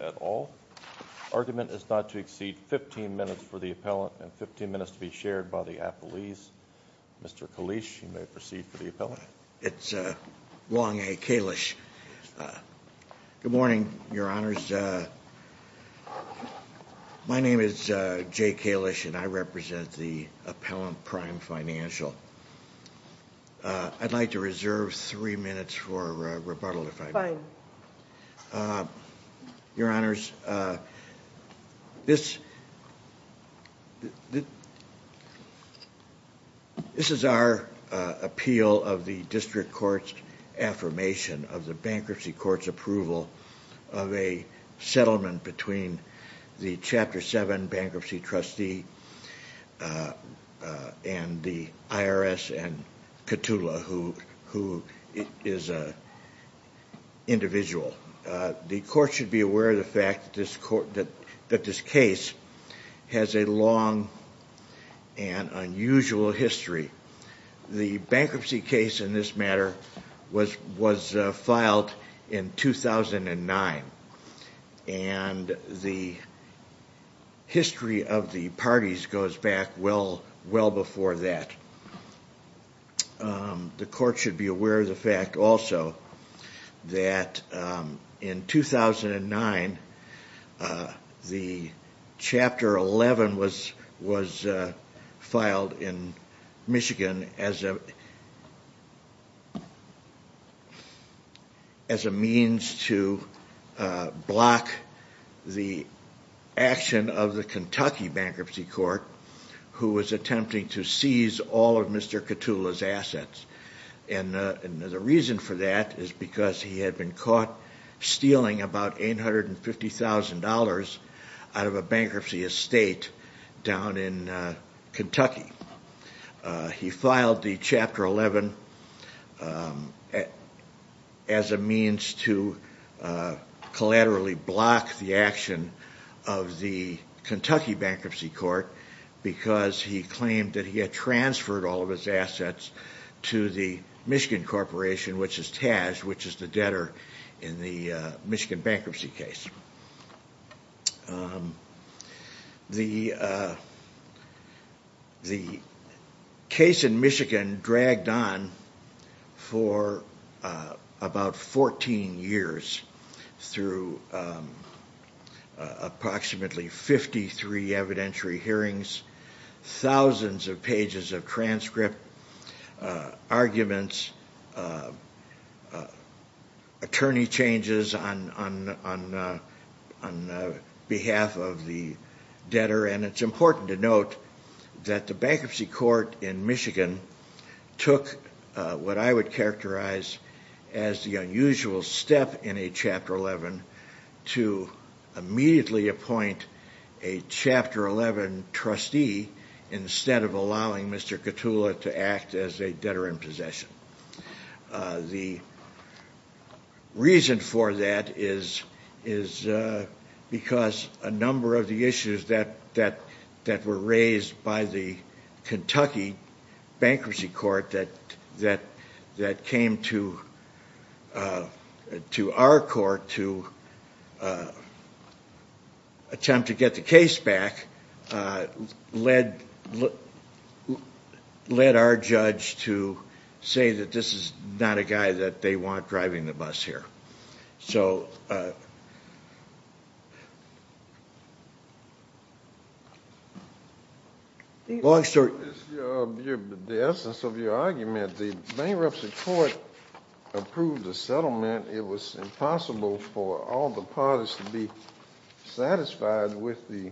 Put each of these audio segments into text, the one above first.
at all. Argument is not to exceed 15 minutes for the appellant and 15 minutes to be shared by the appellees. Mr. Kalish, you may proceed for the appellant. It's Long A. Kalish. Good morning, Your Honors. My name is Jay Kalish and I represent the Appellant Prime Financial. I'd like to reserve three minutes for rebuttal, if I may. Your Honors, this is our appeal of the District Court's affirmation of the Bankruptcy Court's approval of a settlement between the Chapter 7 Bankruptcy Trustee and the IRS and KTULA, who is an individual. The Court should be aware of the fact that this case has a long and unusual history. The bankruptcy case in this matter was filed in 2009 and the history of the parties goes back well before that. The Court should be aware of the fact, also, that in 2009, the Chapter 11 was filed in Michigan as a means to block the action of the Kentucky Bankruptcy Court, who was attempting to seize all of Mr. KTULA's assets. And the reason for that is because he had been caught stealing about $850,000 out of a bankruptcy estate down in Kentucky. He filed the Chapter 11 as a means to collaterally block the action of the Kentucky Bankruptcy Court because he claimed that he had transferred all of his assets to the Michigan Corporation, which is TAJ, which is the debtor in the Michigan bankruptcy case. The case in Michigan dragged on for about 14 years through approximately 53 evidentiary hearings, thousands of pages of transcript, arguments, attorney changes on behalf of the debtor, and it's important to note that the Bankruptcy Court in Michigan took what I would characterize as the unusual step in a Chapter 11 to immediately appoint a Chapter 11 trustee instead of allowing Mr. KTULA to act as a debtor in possession. The reason for that is because a number of the issues that were raised by the Kentucky Bankruptcy Court that came to our court to attempt to get the case back led our judge to say that this is not a guy that they want driving the bus here. The essence of your argument, the Bankruptcy Court approved the settlement. It was impossible for all the parties to be satisfied with the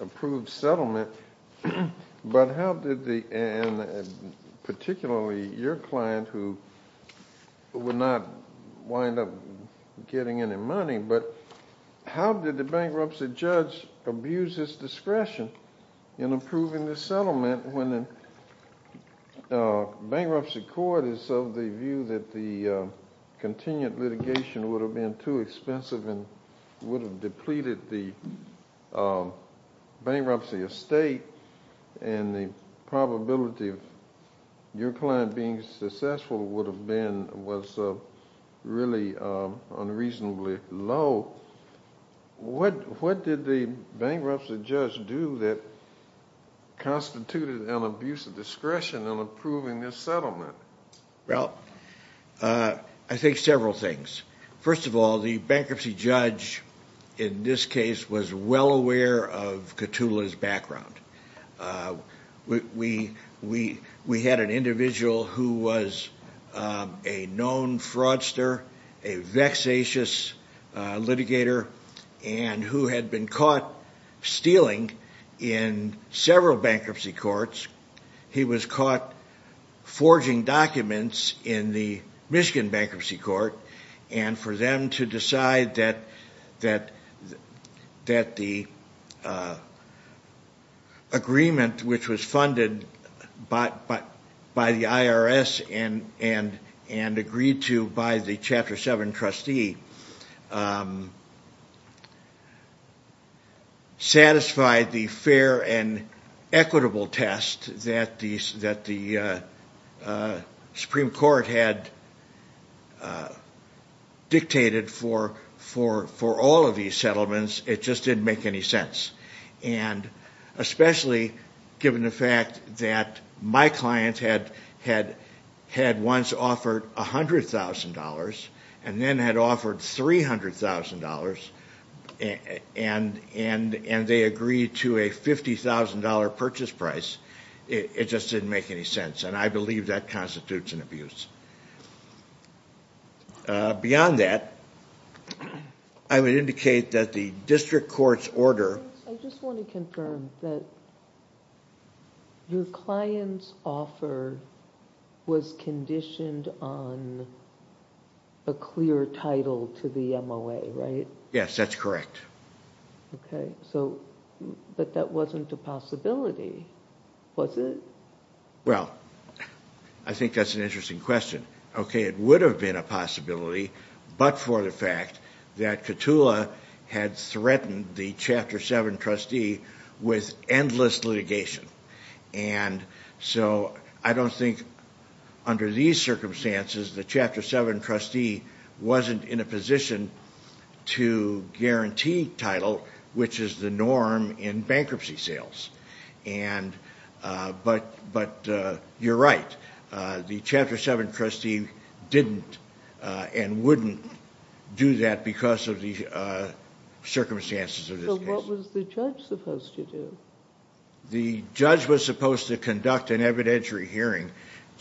approved settlement, but how did the, and particularly your client who would not wind up getting any money, but how did the bankruptcy judge abuse his discretion in approving the settlement when the Bankruptcy Court is of the view that the continued litigation would have been too expensive and would have depleted the bankruptcy estate, and the probability of your client being successful would have been, was really unreasonably low. What did the bankruptcy judge do that constituted an abuse of discretion in approving this settlement? Well, I think several things. First of all, the bankruptcy judge in this case was well aware of KTULA's background. We had an individual who was a known fraudster, a vexatious litigator, and who had been caught stealing in several bankruptcy courts. He was caught forging documents in the Michigan Bankruptcy Court, and for them to decide that the agreement, which was funded by the IRS and agreed to by the Chapter 7 trustee, satisfied the fair and equitable test that the Supreme Court had dictated for all of these settlements, it just didn't make any sense. And especially given the fact that my client had once offered $100,000 and then had offered $300,000, and they agreed to a $50,000 purchase price, it just didn't make any sense. And I believe that constitutes an abuse. Beyond that, I would indicate that the district court's order... I just want to confirm that your client's offer was conditioned on a clear title to the MOA, right? Yes, that's correct. But that wasn't a possibility, was it? Well, I think that's an interesting question. Okay, it would have been a possibility, but for the fact that TULA had threatened the Chapter 7 trustee with endless litigation. And so I don't think under these circumstances the Chapter 7 trustee wasn't in a position to guarantee title, which is the norm in bankruptcy sales. But you're right. The Chapter 7 trustee didn't and wouldn't do that because of the circumstances of this case. So what was the judge supposed to do? The judge was supposed to conduct an evidentiary hearing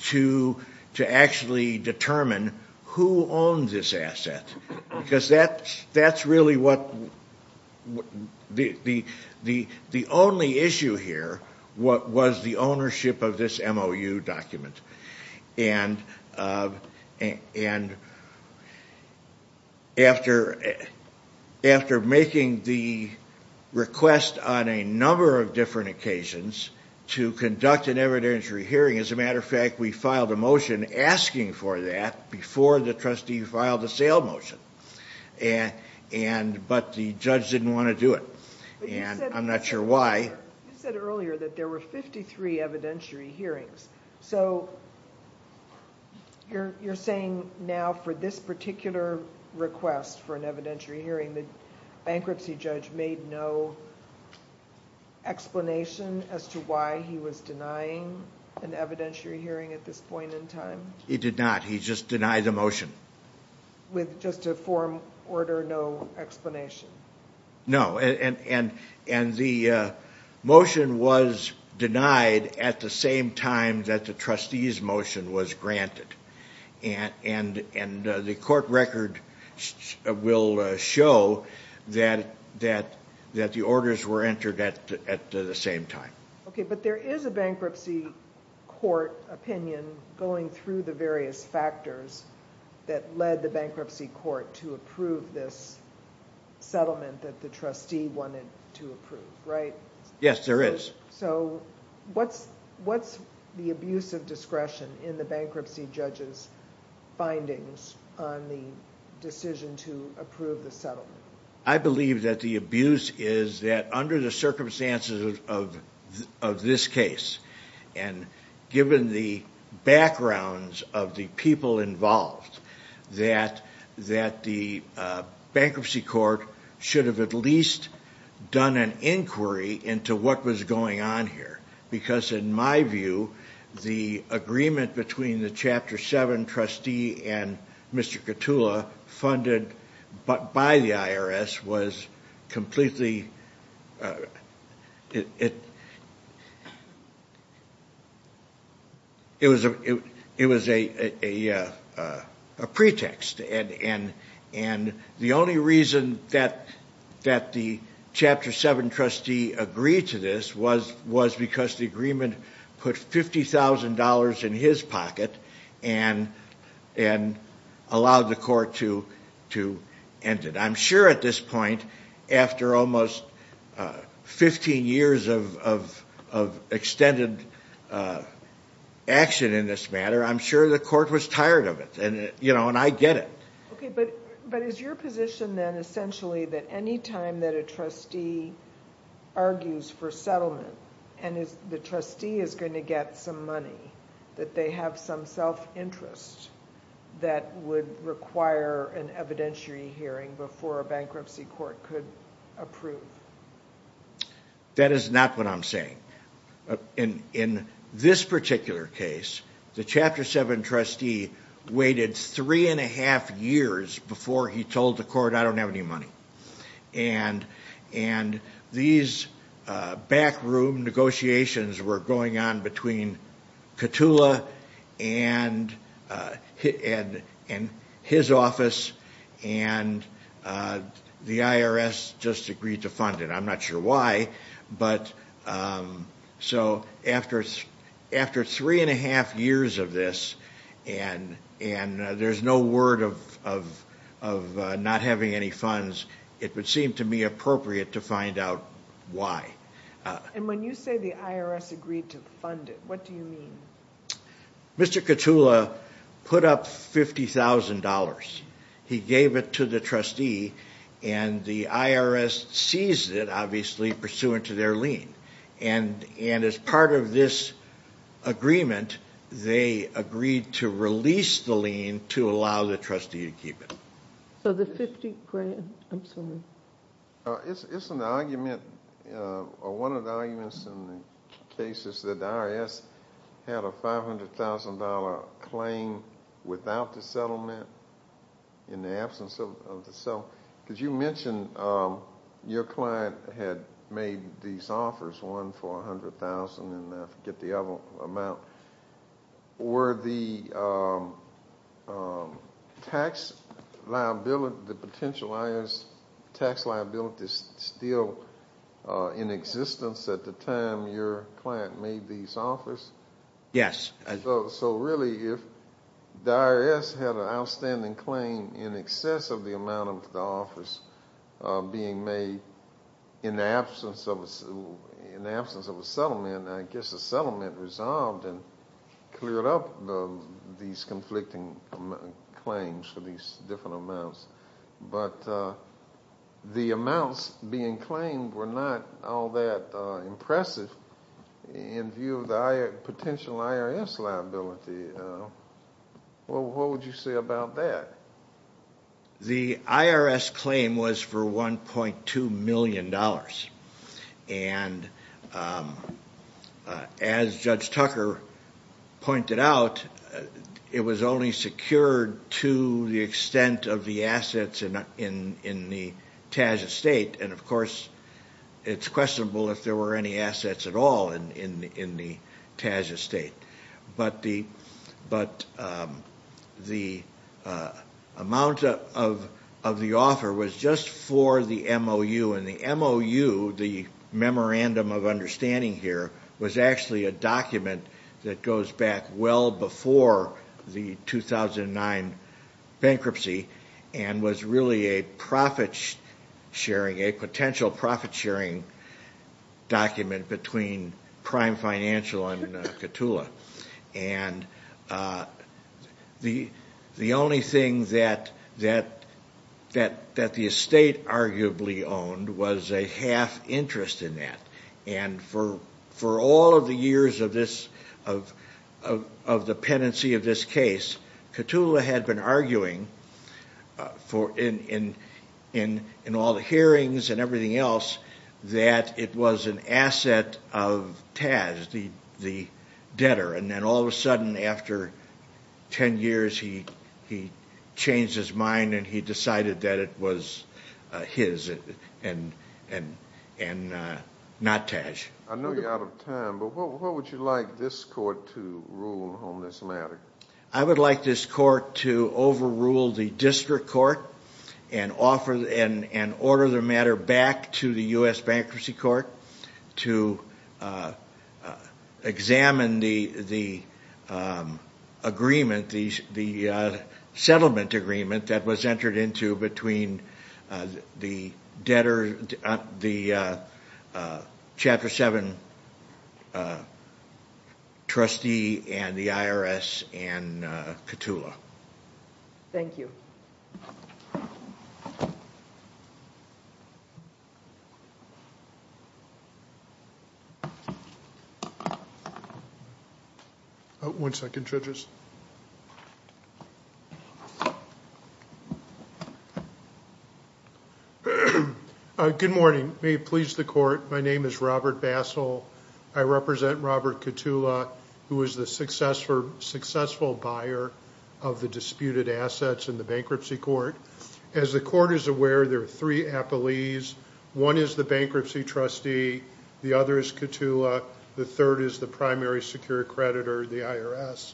to actually determine who owned this asset. Because that's really what... the only issue here was the ownership of this MOU document. And after making the request on a number of different occasions to conduct an evidentiary hearing... As a matter of fact, we filed a motion asking for that before the trustee filed a sale motion. But the judge didn't want to do it. And I'm not sure why. You said earlier that there were 53 evidentiary hearings. So, you're saying now for this particular request for an evidentiary hearing, the bankruptcy judge made no explanation as to why he was denying an evidentiary hearing at this point in time? He did not. He just denied the motion. With just a form order, no explanation? No. And the motion was denied at the same time that the trustee's motion was granted. And the court record will show that the orders were entered at the same time. Okay, but there is a bankruptcy court opinion going through the various factors that led the bankruptcy court to approve this settlement that the trustee wanted to approve, right? Yes, there is. So, what's the abuse of discretion in the bankruptcy judge's findings on the decision to approve the settlement? I believe that the abuse is that under the circumstances of this case, and given the backgrounds of the people involved, that the bankruptcy court should have at least done an inquiry into what was going on here. Because in my view, the agreement between the Chapter 7 trustee and Mr. Katula funded by the IRS was completely... It was a pretext. And the only reason that the Chapter 7 trustee agreed to this was because the agreement put $50,000 in his pocket and allowed the court to end it. I'm sure at this point, after almost 15 years of extended action in this matter, I'm sure the court was tired of it. And I get it. Okay, but is your position then essentially that any time that a trustee argues for settlement, and the trustee is going to get some money, that they have some self-interest that would require an evidentiary hearing before a bankruptcy court could approve? That is not what I'm saying. In this particular case, the Chapter 7 trustee waited three and a half years before he told the court, I don't have any money. And these backroom negotiations were going on between Katula and his office, and the IRS just agreed to fund it. I'm not sure why. So after three and a half years of this, and there's no word of not having any funds, it would seem to me appropriate to find out why. And when you say the IRS agreed to fund it, what do you mean? Mr. Katula put up $50,000. He gave it to the trustee, and the IRS seized it, obviously, pursuant to their lien. And as part of this agreement, they agreed to release the lien to allow the trustee to keep it. It's an argument, one of the arguments in the case is that the IRS had a $500,000 claim without the settlement, in the absence of the settlement. Because you mentioned your client had made these offers, one for $100,000, and I forget the other amount. Were the potential IRS tax liabilities still in existence at the time your client made these offers? Yes. So really, if the IRS had an outstanding claim in excess of the amount of the offers being made in the absence of a settlement, I guess the settlement resolved and cleared up these conflicting claims for these different amounts. But the amounts being claimed were not all that impressive in view of the potential IRS liability. What would you say about that? Well, the IRS claim was for $1.2 million. And as Judge Tucker pointed out, it was only secured to the extent of the assets in the TAJ estate, and of course, it's questionable if there were any assets at all in the TAJ estate. But the amount of the offer was just for the MOU, and the MOU, the Memorandum of Understanding here, was actually a document that goes back well before the 2009 bankruptcy, and was really a potential profit sharing document between Prime Financial and Ctula. And the only thing that the estate arguably owned was a half interest in that. And for all of the years of the penancy of this case, Ctula had been arguing, in all the hearings and everything else, that it was an asset of TAJ, the debtor. And then all of a sudden, after 10 years, he changed his mind and he decided that it was his and not TAJ. I know you're out of time, but what would you like this Court to rule on this matter? I would like this Court to overrule the District Court and order the matter back to the U.S. Bankruptcy Court to examine the agreement, the settlement agreement, that was entered into between the debtor, the Chapter 7 trustee and the IRS and Ctula. Thank you. One second, judges. Good morning. May it please the Court, my name is Robert Bassel. I represent Robert Ctula, who was the successful buyer of the disputed assets in the Bankruptcy Court. As the Court is aware, there are three appellees. One is the bankruptcy trustee, the other is Ctula, the third is the primary secure creditor, the IRS.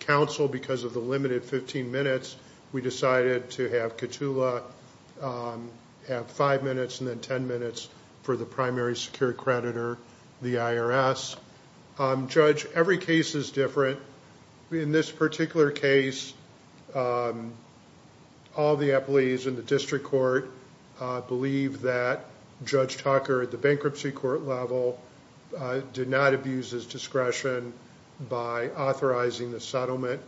Counsel, because of the limited 15 minutes, we decided to have Ctula have 5 minutes and then 10 minutes for the primary secure creditor, the IRS. Judge, every case is different. In this particular case, all the appellees in the District Court believe that Judge Tucker, at the Bankruptcy Court level, did not abuse his discretion by authorizing the settlement.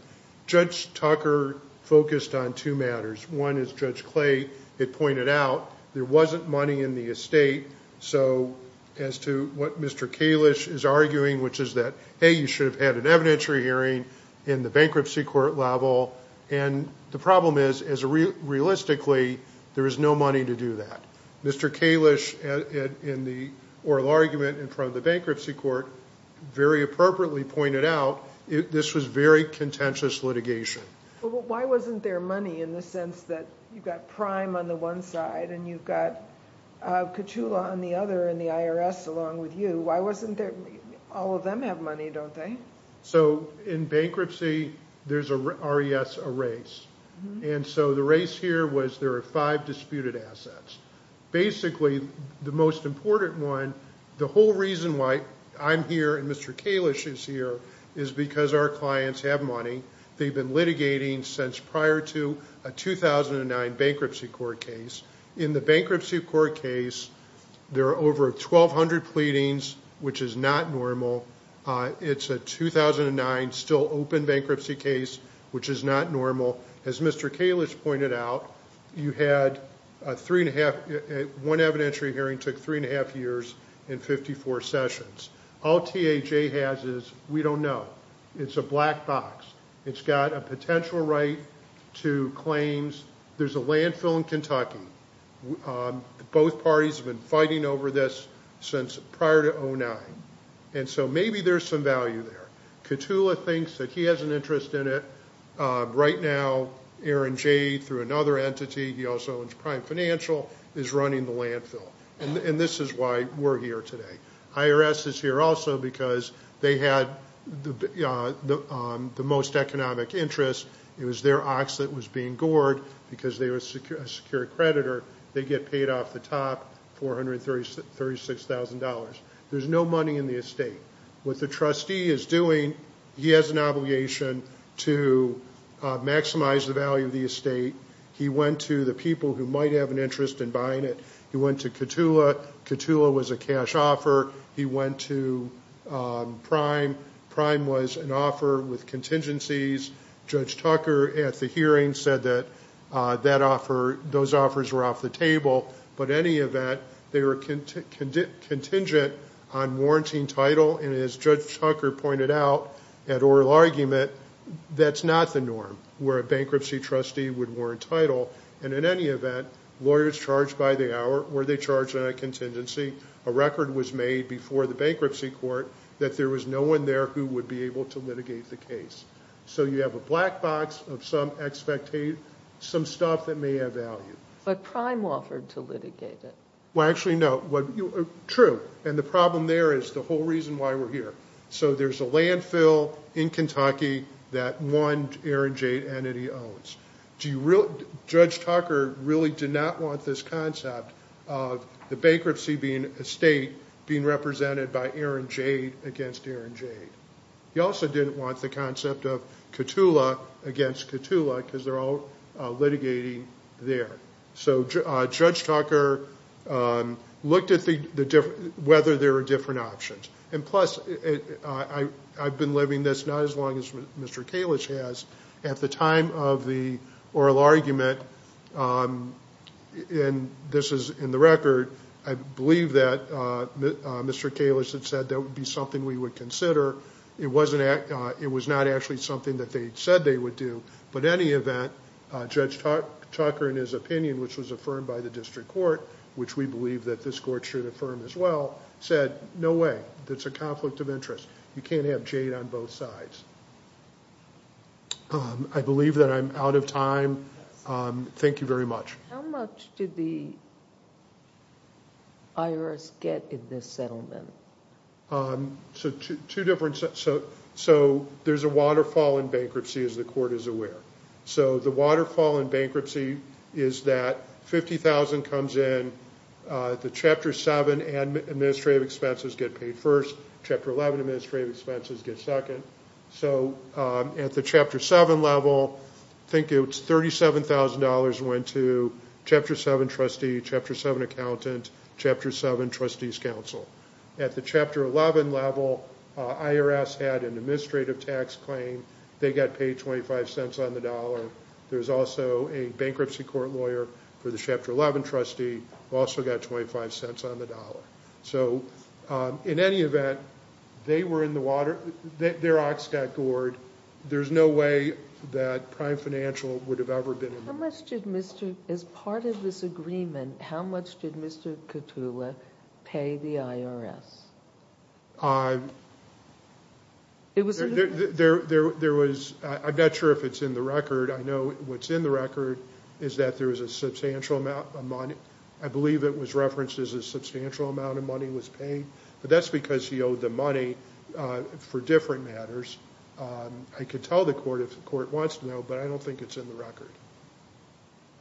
Judge Tucker focused on two matters. One, as Judge Clay had pointed out, there wasn't money in the estate. So, as to what Mr. Kalish is arguing, which is that, hey, you should have had an evidentiary hearing in the Bankruptcy Court level. The problem is, realistically, there is no money to do that. Mr. Kalish, in the oral argument in front of the Bankruptcy Court, very appropriately pointed out, this was very contentious litigation. Why wasn't there money in the sense that you've got Prime on the one side and you've got Ctula on the other and the IRS along with you? Why wasn't there money? All of them have money, don't they? In bankruptcy, there's a RES, a race. The race here was there are five disputed assets. Basically, the most important one, the whole reason why I'm here and Mr. Kalish is here is because our clients have money. They've been litigating since prior to a 2009 bankruptcy court case. In the bankruptcy court case, there are over 1,200 pleadings, which is not normal. It's a 2009 still open bankruptcy case, which is not normal. As Mr. Kalish pointed out, one evidentiary hearing took three and a half years and 54 sessions. All TAJ has is, we don't know. It's a black box. It's got a potential right to claims. There's a landfill in Kentucky. Both parties have been fighting over this since prior to 2009. Maybe there's some value there. Ctula thinks that he has an interest in it. Right now, Aaron Jay through another entity, he also owns Prime Financial, is running the landfill. This is why we're here today. IRS is here also because they had the most economic interest. It was their ox that was being gored because they were a secure creditor. They get paid off the top $436,000. There's no money in the estate. What the trustee is doing, he has an obligation to maximize the value of the estate. He went to the people who might have an interest in buying it. He went to Ctula. Ctula was a cash offer. He went to Prime. Prime was an offer with contingencies. Judge Tucker at the hearing said that those offers were off the table. In any event, they were contingent on warranting title. As Judge Tucker pointed out at oral argument, that's not the norm, where a bankruptcy trustee would warrant title. In any event, lawyers charged by the hour, were they charged on a contingency? A record was made before the bankruptcy court that there was no one there who would be able to litigate the case. You have a black box of some stuff that may have value. But Prime offered to litigate it. True. The problem there is the whole reason why we're here. There's a landfill in Kentucky that one Aaron Jade entity owns. Judge Tucker really did not want this concept of the bankruptcy being a state being represented by Aaron Jade against Aaron Jade. He also didn't want the concept of Ctula against Ctula because they're all litigating there. Judge Tucker looked at whether there were different options. Plus, I've been living this not as long as Mr. Kalish has. At the time of the oral argument, and this is in the record, I believe that Mr. Kalish had said that would be something we would consider. However, it was not actually something that they said they would do. But in any event, Judge Tucker, in his opinion, which was affirmed by the district court, which we believe that this court should affirm as well, said, no way. It's a conflict of interest. You can't have Jade on both sides. I believe that I'm out of time. Thank you very much. How much did the IRS get in this settlement? There's a waterfall in bankruptcy, as the court is aware. The waterfall in bankruptcy is that $50,000 comes in, the Chapter 7 administrative expenses get paid first, Chapter 11 administrative expenses get second. At the Chapter 7 level, I think it was $37,000 went to Chapter 7 trustee, Chapter 7 accountant, Chapter 7 trustee's counsel. At the Chapter 11 level, IRS had an administrative tax claim. They got paid 25 cents on the dollar. There's also a bankruptcy court lawyer for the Chapter 11 trustee who also got 25 cents on the dollar. So in any event, they were in the water, their ox got gored. There's no way that Prime Financial would have ever been involved. As part of this agreement, how much did Mr. Katula pay the IRS? I'm not sure if it's in the record. I know what's in the record is that there was a substantial amount of money. I believe it was referenced as a substantial amount of money was paid, but that's because he owed the money for different matters. I could tell the court if the court wants to know, but I don't think it's in the record.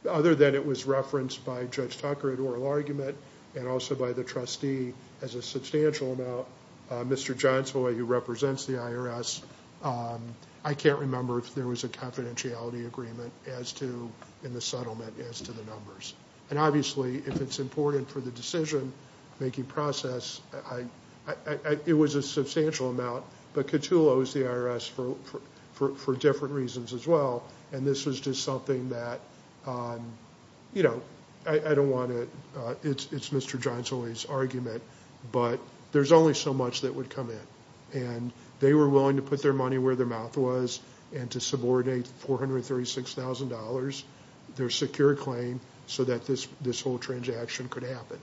Other than it was referenced by Judge Tucker in oral argument and also by the trustee as a substantial amount, Mr. Johnson, who represents the IRS, I can't remember if there was a confidentiality agreement in the settlement as to the numbers. Obviously, if it's important for the decision-making process, it was a substantial amount, but Katula owes the IRS for different reasons as well. This was just something that I don't want to – it's Mr. Johnson's argument, but there's only so much that would come in. They were willing to put their money where their mouth was and to subordinate $436,000, their secure claim, so that this whole transaction could happen.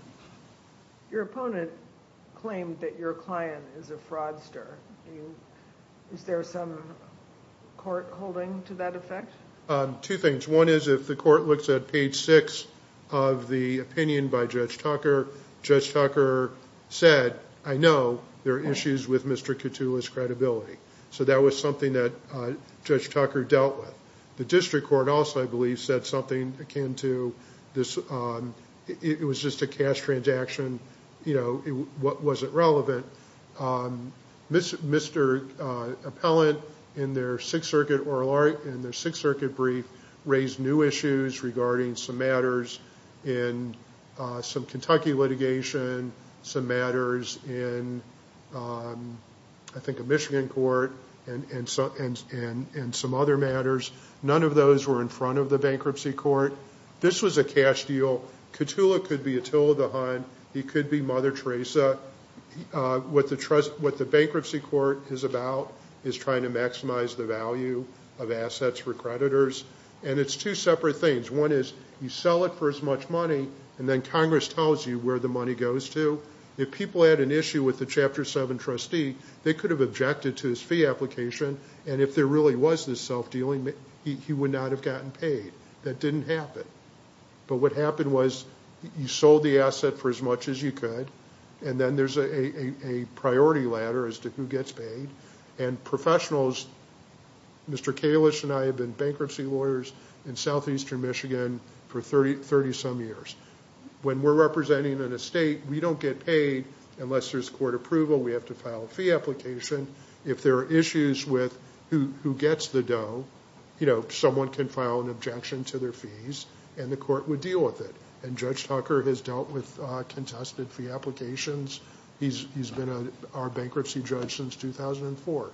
Your opponent claimed that your client is a fraudster. Is there some court holding to that effect? Two things. One is if the court looks at page 6 of the opinion by Judge Tucker, Judge Tucker said, I know there are issues with Mr. Katula's credibility. That was something that Judge Tucker dealt with. The district court also, I believe, said something akin to this – it was just a cash transaction. It wasn't relevant. Mr. Appellant, in their Sixth Circuit brief, raised new issues regarding some matters in some Kentucky litigation, some matters in, I think, a Michigan court, and some other matters. None of those were in front of the bankruptcy court. This was a cash deal. Katula could be Attila DeHaan. He could be Mother Teresa. What the bankruptcy court is about is trying to maximize the value of assets for creditors, and it's two separate things. One is you sell it for as much money, and then Congress tells you where the money goes to. If people had an issue with the Chapter 7 trustee, they could have objected to his fee application, and if there really was this self-dealing, he would not have gotten paid. That didn't happen, but what happened was you sold the asset for as much as you could, and then there's a priority ladder as to who gets paid, and professionals – Mr. Kalish and I have been bankruptcy lawyers in southeastern Michigan for 30-some years. When we're representing an estate, we don't get paid unless there's court approval. We have to file a fee application. If there are issues with who gets the dough, someone can file an objection to their fees, and the court would deal with it. Judge Tucker has dealt with contested fee applications. He's been our bankruptcy judge since 2004.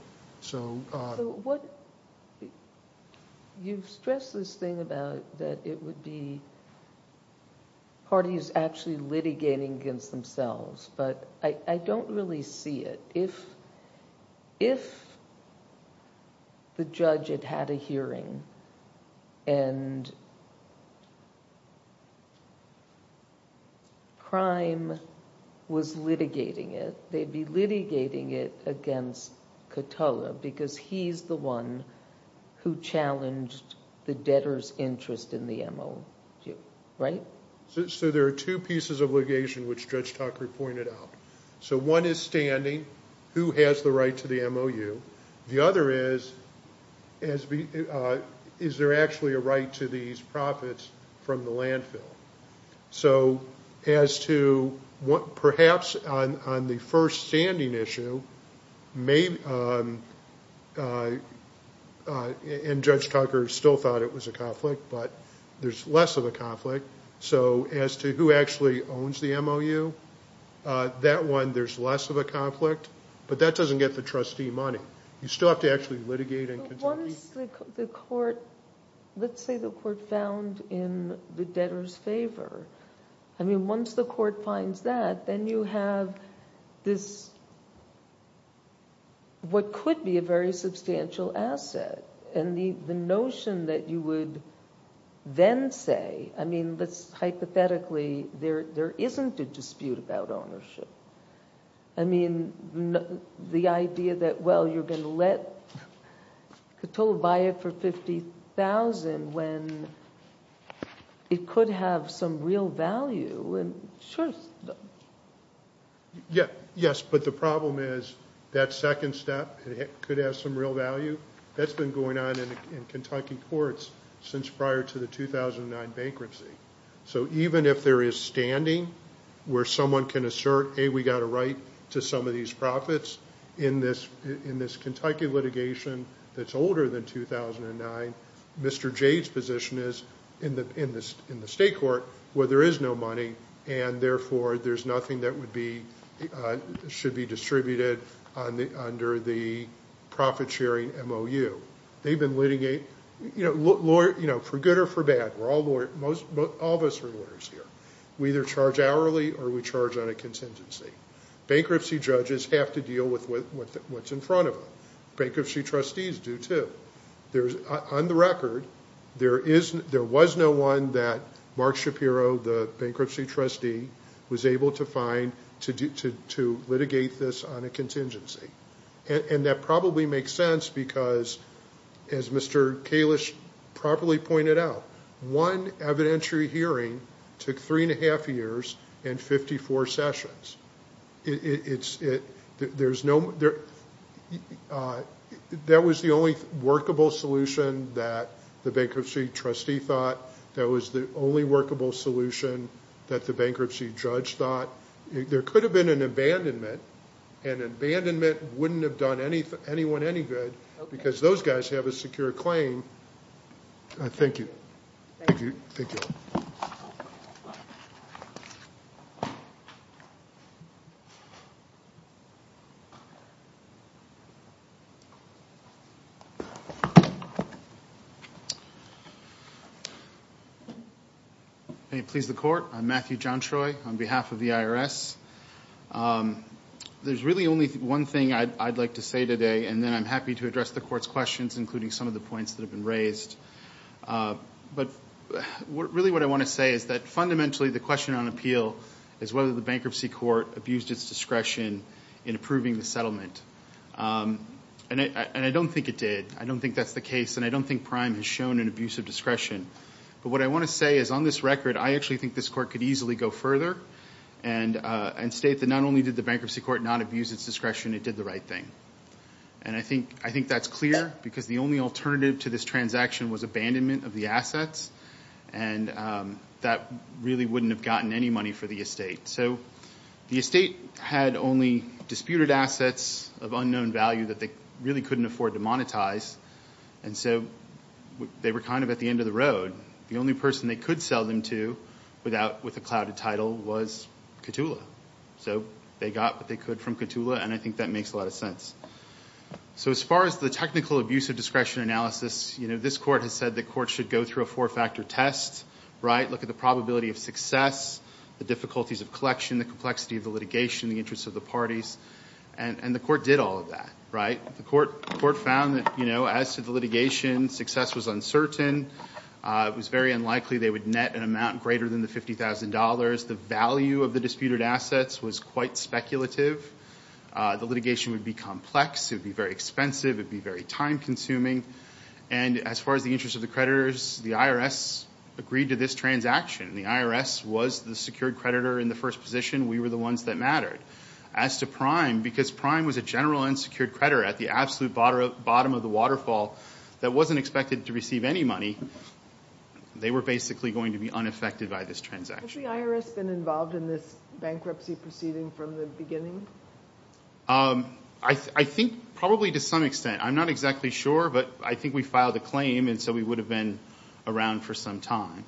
You've stressed this thing about that it would be parties actually litigating against themselves, but I don't really see it. If the judge had had a hearing and crime was litigating it, they'd be litigating it against Cotulla because he's the one who challenged the debtor's interest in the MOU. There are two pieces of litigation which Judge Tucker pointed out. One is standing, who has the right to the MOU. The other is, is there actually a right to these profits from the landfill? Perhaps on the first standing issue, Judge Tucker still thought it was a conflict, but there's less of a conflict. As to who actually owns the MOU, that one there's less of a conflict, but that doesn't get the trustee money. You still have to actually litigate. Let's say the court found in the debtor's favor. Once the court finds that, then you have what could be a very substantial asset. The notion that you would then say, hypothetically, there isn't a dispute about ownership. The idea that you're going to let Cotulla buy it for $50,000 when it could have some real value. Yes, but the problem is that second step could have some real value. That's been going on in Kentucky courts since prior to the 2009 bankruptcy. Even if there is standing where someone can assert, A, we got a right to some of these profits in this Kentucky litigation that's older than 2009, Mr. Jade's position is in the state court where there is no money, and therefore there's nothing that should be distributed under the profit sharing MOU. They've been litigating for good or for bad. All of us are lawyers here. We either charge hourly or we charge on a contingency. Bankruptcy judges have to deal with what's in front of them. Bankruptcy trustees do too. On the record, there was no one that Mark Shapiro, the bankruptcy trustee, was able to find to litigate this on a contingency. That probably makes sense because, as Mr. Kalish properly pointed out, one evidentiary hearing took three and a half years and 54 sessions. That was the only workable solution that the bankruptcy trustee thought. That was the only workable solution that the bankruptcy judge thought. There could have been an abandonment, and abandonment wouldn't have done anyone any good because those guys have a secure claim. Thank you. Matthew John Troy There's really only one thing I'd like to say today, and then I'm happy to address the court's questions, including some of the points that have been raised. But really what I want to say is that fundamentally the question on appeal is whether the bankruptcy court abused its discretion in approving the settlement. I don't think it did. I don't think that's the case, and I don't think Prime has shown an abuse of discretion. But what I want to say is on this record, I actually think this court could easily go further and state that not only did the bankruptcy court not abuse its discretion, it did the right thing. And I think that's clear because the only alternative to this transaction was abandonment of the assets, and that really wouldn't have gotten any money for the estate. So the estate had only disputed assets of unknown value that they really couldn't afford to monetize. And so they were kind of at the end of the road. The only person they could sell them to with a clouded title was Ctula. So they got what they could from Ctula, and I think that makes a lot of sense. So as far as the technical abuse of discretion analysis, this court has said the court should go through a four-factor test, look at the probability of success, the difficulties of collection, the complexity of the litigation, the interests of the parties, and the court did all of that. The court found that as to the litigation, success was uncertain. It was very unlikely they would net an amount greater than the $50,000. The value of the disputed assets was quite speculative. The litigation would be complex. It would be very expensive. It would be very time-consuming. And as far as the interest of the creditors, the IRS agreed to this transaction. The IRS was the secured creditor in the first position. We were the ones that mattered. As to Prime, because Prime was a general unsecured creditor at the absolute bottom of the waterfall that wasn't expected to receive any money, they were basically going to be unaffected by this transaction. Has the IRS been involved in this bankruptcy proceeding from the beginning? I think probably to some extent. I'm not exactly sure, but I think we filed a claim, and so we would have been around for some time.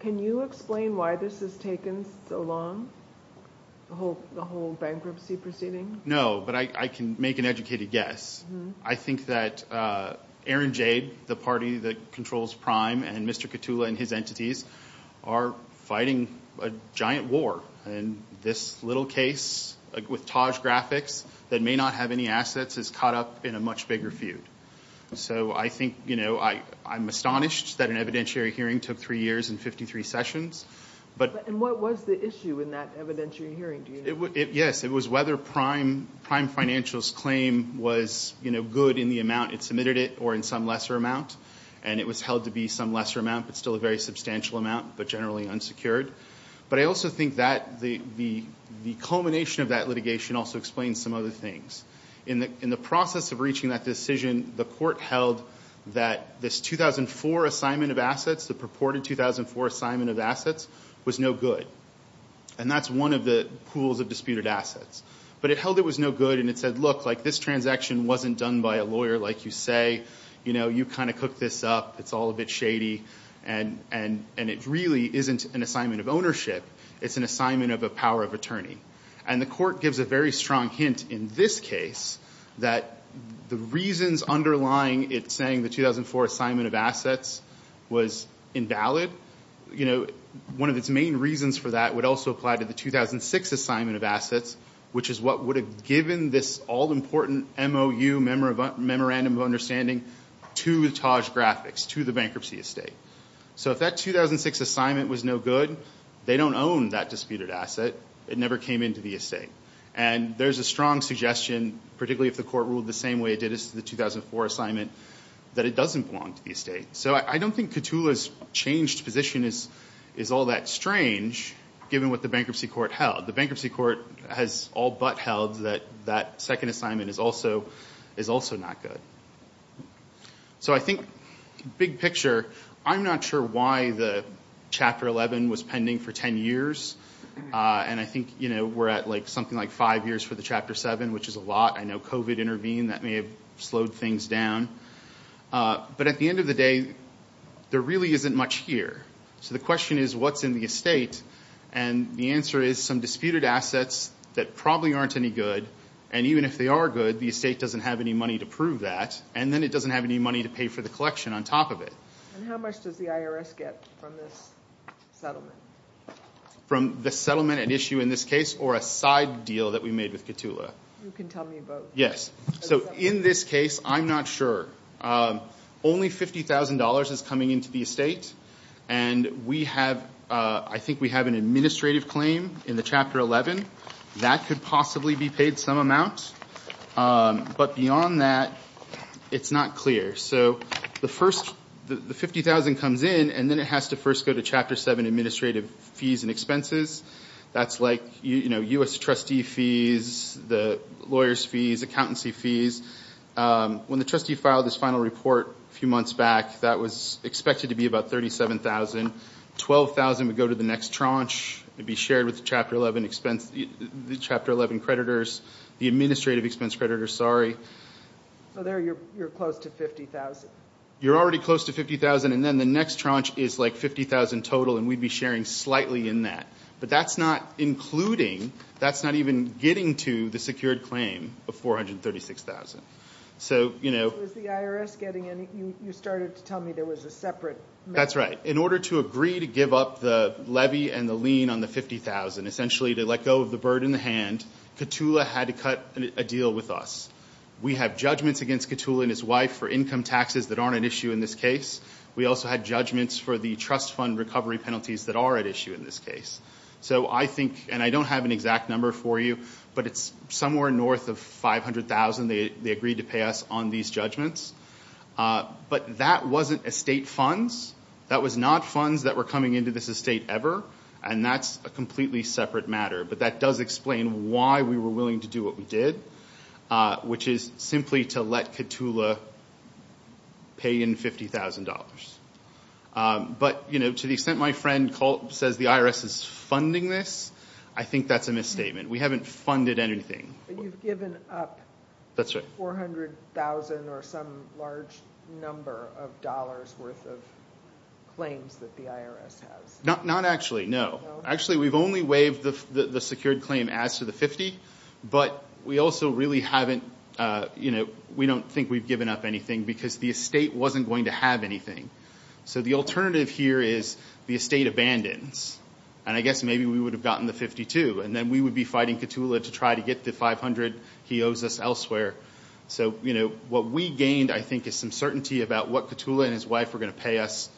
Can you explain why this has taken so long, the whole bankruptcy proceeding? No, but I can make an educated guess. I think that Aaron Jade, the party that controls Prime, and Mr. Katula and his entities are fighting a giant war, and this little case with Taj Graphics that may not have any assets is caught up in a much bigger feud. I'm astonished that an evidentiary hearing took three years and 53 sessions. What was the issue in that evidentiary hearing? Yes, it was whether Prime Financial's claim was good in the amount it submitted it or in some lesser amount. It was held to be some lesser amount, but still a very substantial amount, but generally unsecured. I also think that the culmination of that litigation also explains some other things. In the process of reaching that decision, the court held that this 2004 assignment of assets, the purported 2004 assignment of assets, was no good. That's one of the pools of disputed assets, but it held it was no good, and it said, look, this transaction wasn't done by a lawyer like you say. You kind of cooked this up. It's all a bit shady, and it really isn't an assignment of ownership. It's an assignment of a power of attorney, and the court gives a very strong hint in this case that the reasons underlying it saying the 2004 assignment of assets was invalid. One of its main reasons for that would also apply to the 2006 assignment of assets, which is what would have given this all-important MOU, Memorandum of Understanding, to Taj Graphics, to the bankruptcy estate. If that 2006 assignment was no good, they don't own that disputed asset. It never came into the estate. There's a strong suggestion, particularly if the court ruled the same way it did as to the 2004 assignment, that it doesn't belong to the estate. So I don't think Ctula's changed position is all that strange, given what the bankruptcy court held. The bankruptcy court has all but held that that second assignment is also not good. So I think, big picture, I'm not sure why the Chapter 11 was pending for 10 years, and I think we're at something like five years for the Chapter 7, which is a lot. I know COVID intervened. That may have slowed things down. But at the end of the day, there really isn't much here. So the question is, what's in the estate? And the answer is some disputed assets that probably aren't any good, and even if they are good, the estate doesn't have any money to prove that, and then it doesn't have any money to pay for the collection on top of it. And how much does the IRS get from this settlement? From the settlement at issue in this case, or a side deal that we made with Ctula? You can tell me both. Yes. So in this case, I'm not sure. Only $50,000 is coming into the estate, and I think we have an administrative claim in the Chapter 11. That could possibly be paid some amount. But beyond that, it's not clear. So the $50,000 comes in, and then it has to first go to Chapter 7 administrative fees and expenses. That's like U.S. trustee fees, the lawyer's fees, accountancy fees. When the trustee filed this final report a few months back, that was expected to be about $37,000. $12,000 would go to the next tranche. It would be shared with the Chapter 11 creditors. The administrative expense creditors, sorry. So there you're close to $50,000. You're already close to $50,000, and then the next tranche is like $50,000 total, and we'd be sharing slightly in that. But that's not including, that's not even getting to the secured claim of $436,000. So, you know. Was the IRS getting any? You started to tell me there was a separate. That's right. In order to agree to give up the levy and the lien on the $50,000, essentially to let go of the bird in the hand, Ctula had to cut a deal with us. We have judgments against Ctula and his wife for income taxes that aren't at issue in this case. We also had judgments for the trust fund recovery penalties that are at issue in this case. So I think, and I don't have an exact number for you, but it's somewhere north of $500,000 they agreed to pay us on these judgments. But that wasn't estate funds. That was not funds that were coming into this estate ever, and that's a completely separate matter. But that does explain why we were willing to do what we did, which is simply to let Ctula pay in $50,000. But, you know, to the extent my friend says the IRS is funding this, I think that's a misstatement. We haven't funded anything. But you've given up $400,000 or some large number of dollars' worth of claims that the IRS has. Not actually, no. Actually, we've only waived the secured claim as to the $50,000, but we also really haven't, you know, we don't think we've given up anything because the estate wasn't going to have anything. So the alternative here is the estate abandons, and I guess maybe we would have gotten the $52,000, and then we would be fighting Ctula to try to get the $500,000 he owes us elsewhere. So, you know, what we gained, I think, is some certainty about what Ctula and his wife are going to pay us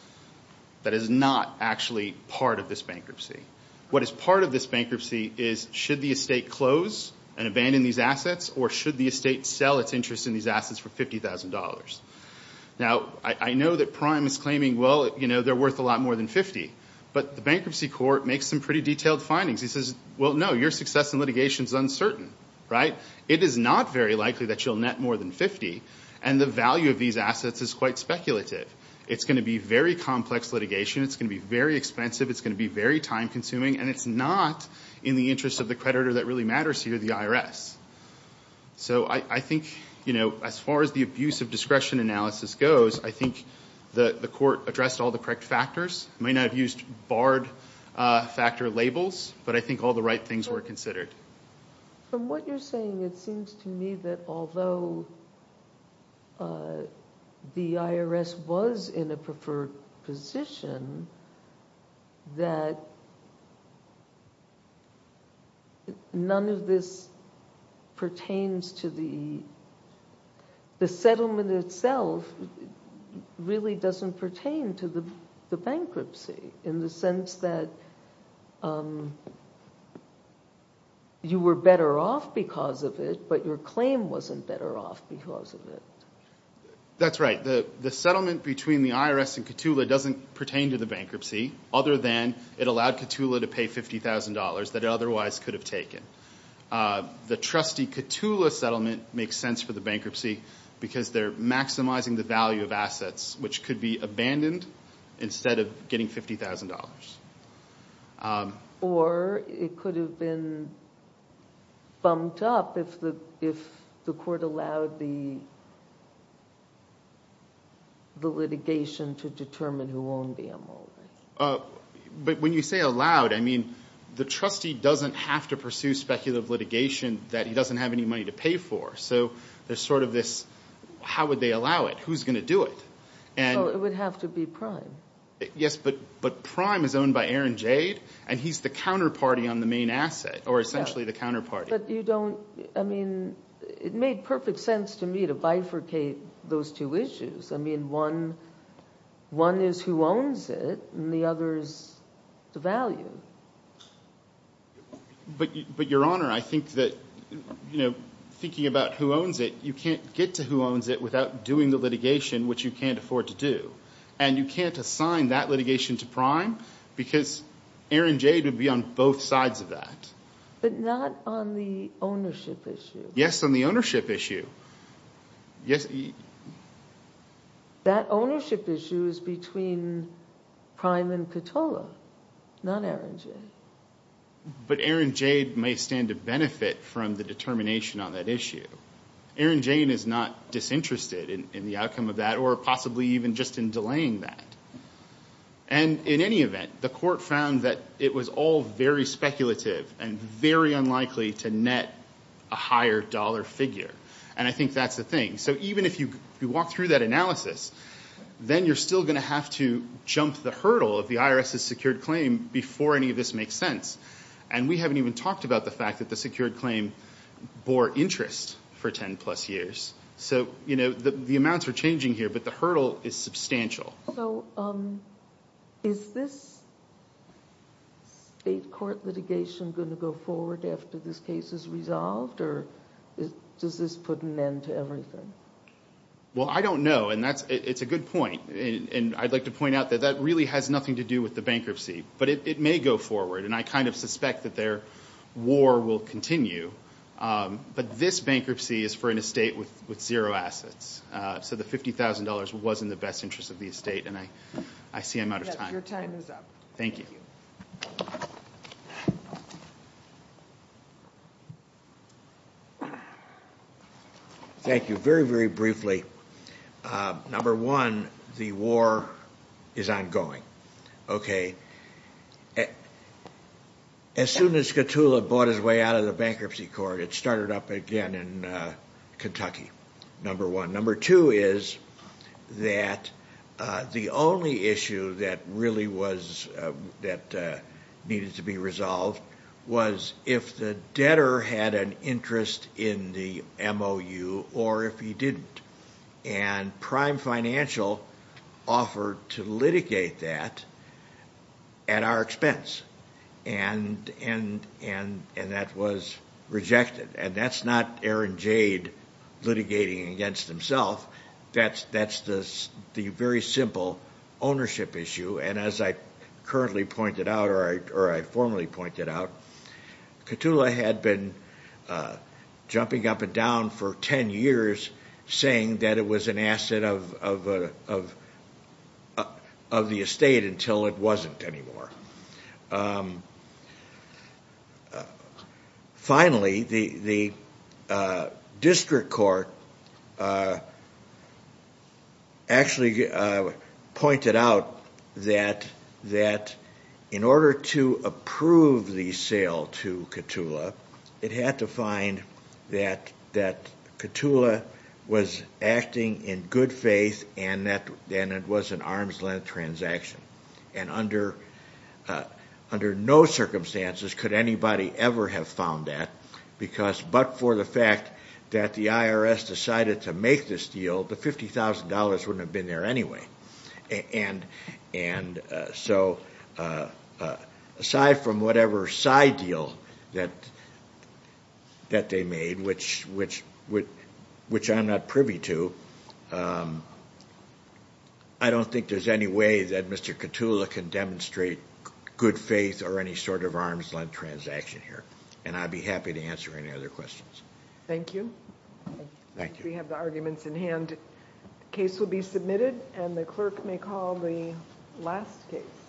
that is not actually part of this bankruptcy. What is part of this bankruptcy is should the estate close and abandon these assets or should the estate sell its interest in these assets for $50,000? Now, I know that Prime is claiming, well, you know, they're worth a lot more than $50,000, but the bankruptcy court makes some pretty detailed findings. It says, well, no, your success in litigation is uncertain, right? It is not very likely that you'll net more than $50,000, and the value of these assets is quite speculative. It's going to be very complex litigation. It's going to be very expensive. It's going to be very time-consuming, and it's not in the interest of the creditor that really matters here, the IRS. So I think, you know, as far as the abuse of discretion analysis goes, I think the court addressed all the correct factors. It may not have used barred factor labels, but I think all the right things were considered. From what you're saying, it seems to me that although the IRS was in a preferred position, that none of this pertains to the settlement itself really doesn't pertain to the bankruptcy in the sense that you were better off because of it, but your claim wasn't better off because of it. That's right. The settlement between the IRS and Ctula doesn't pertain to the bankruptcy other than it allowed Ctula to pay $50,000 that it otherwise could have taken. The trustee Ctula settlement makes sense for the bankruptcy because they're maximizing the value of assets, which could be abandoned instead of getting $50,000. Or it could have been bumped up if the court allowed the litigation to determine who owned the MOU. But when you say allowed, I mean the trustee doesn't have to pursue speculative litigation that he doesn't have any money to pay for. So there's sort of this how would they allow it? Who's going to do it? It would have to be Prime. Yes, but Prime is owned by Aaron Jade, and he's the counterparty on the main asset, or essentially the counterparty. But you don't, I mean it made perfect sense to me to bifurcate those two issues. I mean one is who owns it, and the other is the value. But Your Honor, I think that thinking about who owns it, you can't get to who owns it without doing the litigation, which you can't afford to do. And you can't assign that litigation to Prime because Aaron Jade would be on both sides of that. But not on the ownership issue. Yes, on the ownership issue. That ownership issue is between Prime and Cattola, not Aaron Jade. But Aaron Jade may stand to benefit from the determination on that issue. Aaron Jade is not disinterested in the outcome of that, or possibly even just in delaying that. And in any event, the court found that it was all very speculative and very unlikely to net a higher dollar figure. And I think that's the thing. So even if you walk through that analysis, then you're still going to have to jump the hurdle of the IRS's secured claim before any of this makes sense. And we haven't even talked about the fact that the secured claim bore interest for 10 plus years. So the amounts are changing here, but the hurdle is substantial. So is this state court litigation going to go forward after this case is resolved? Or does this put an end to everything? Well, I don't know, and it's a good point. And I'd like to point out that that really has nothing to do with the bankruptcy. But it may go forward, and I kind of suspect that their war will continue. But this bankruptcy is for an estate with zero assets. So the $50,000 was in the best interest of the estate, and I see I'm out of time. Your time is up. Thank you. Thank you. Very, very briefly. Number one, the war is ongoing. As soon as Skatula bought his way out of the bankruptcy court, it started up again in Kentucky, number one. Number two is that the only issue that really needed to be resolved was if the debtor had an interest in the MOU or if he didn't. And Prime Financial offered to litigate that at our expense, and that was rejected. And that's not Aaron Jade litigating against himself. That's the very simple ownership issue. And as I currently pointed out or I formally pointed out, Skatula had been jumping up and down for 10 years saying that it was an asset of the estate until it wasn't anymore. Finally, the district court actually pointed out that in order to approve the sale to Skatula, it had to find that Skatula was acting in good faith and it was an arm's length transaction. And under no circumstances could anybody ever have found that because but for the fact that the IRS decided to make this deal, the $50,000 wouldn't have been there anyway. And so aside from whatever side deal that they made, which I'm not privy to, I don't think there's any way that Mr. Skatula can demonstrate good faith or any sort of arm's length transaction here. And I'd be happy to answer any other questions. Thank you. Thank you. We have the arguments in hand. The case will be submitted and the clerk may call the last case.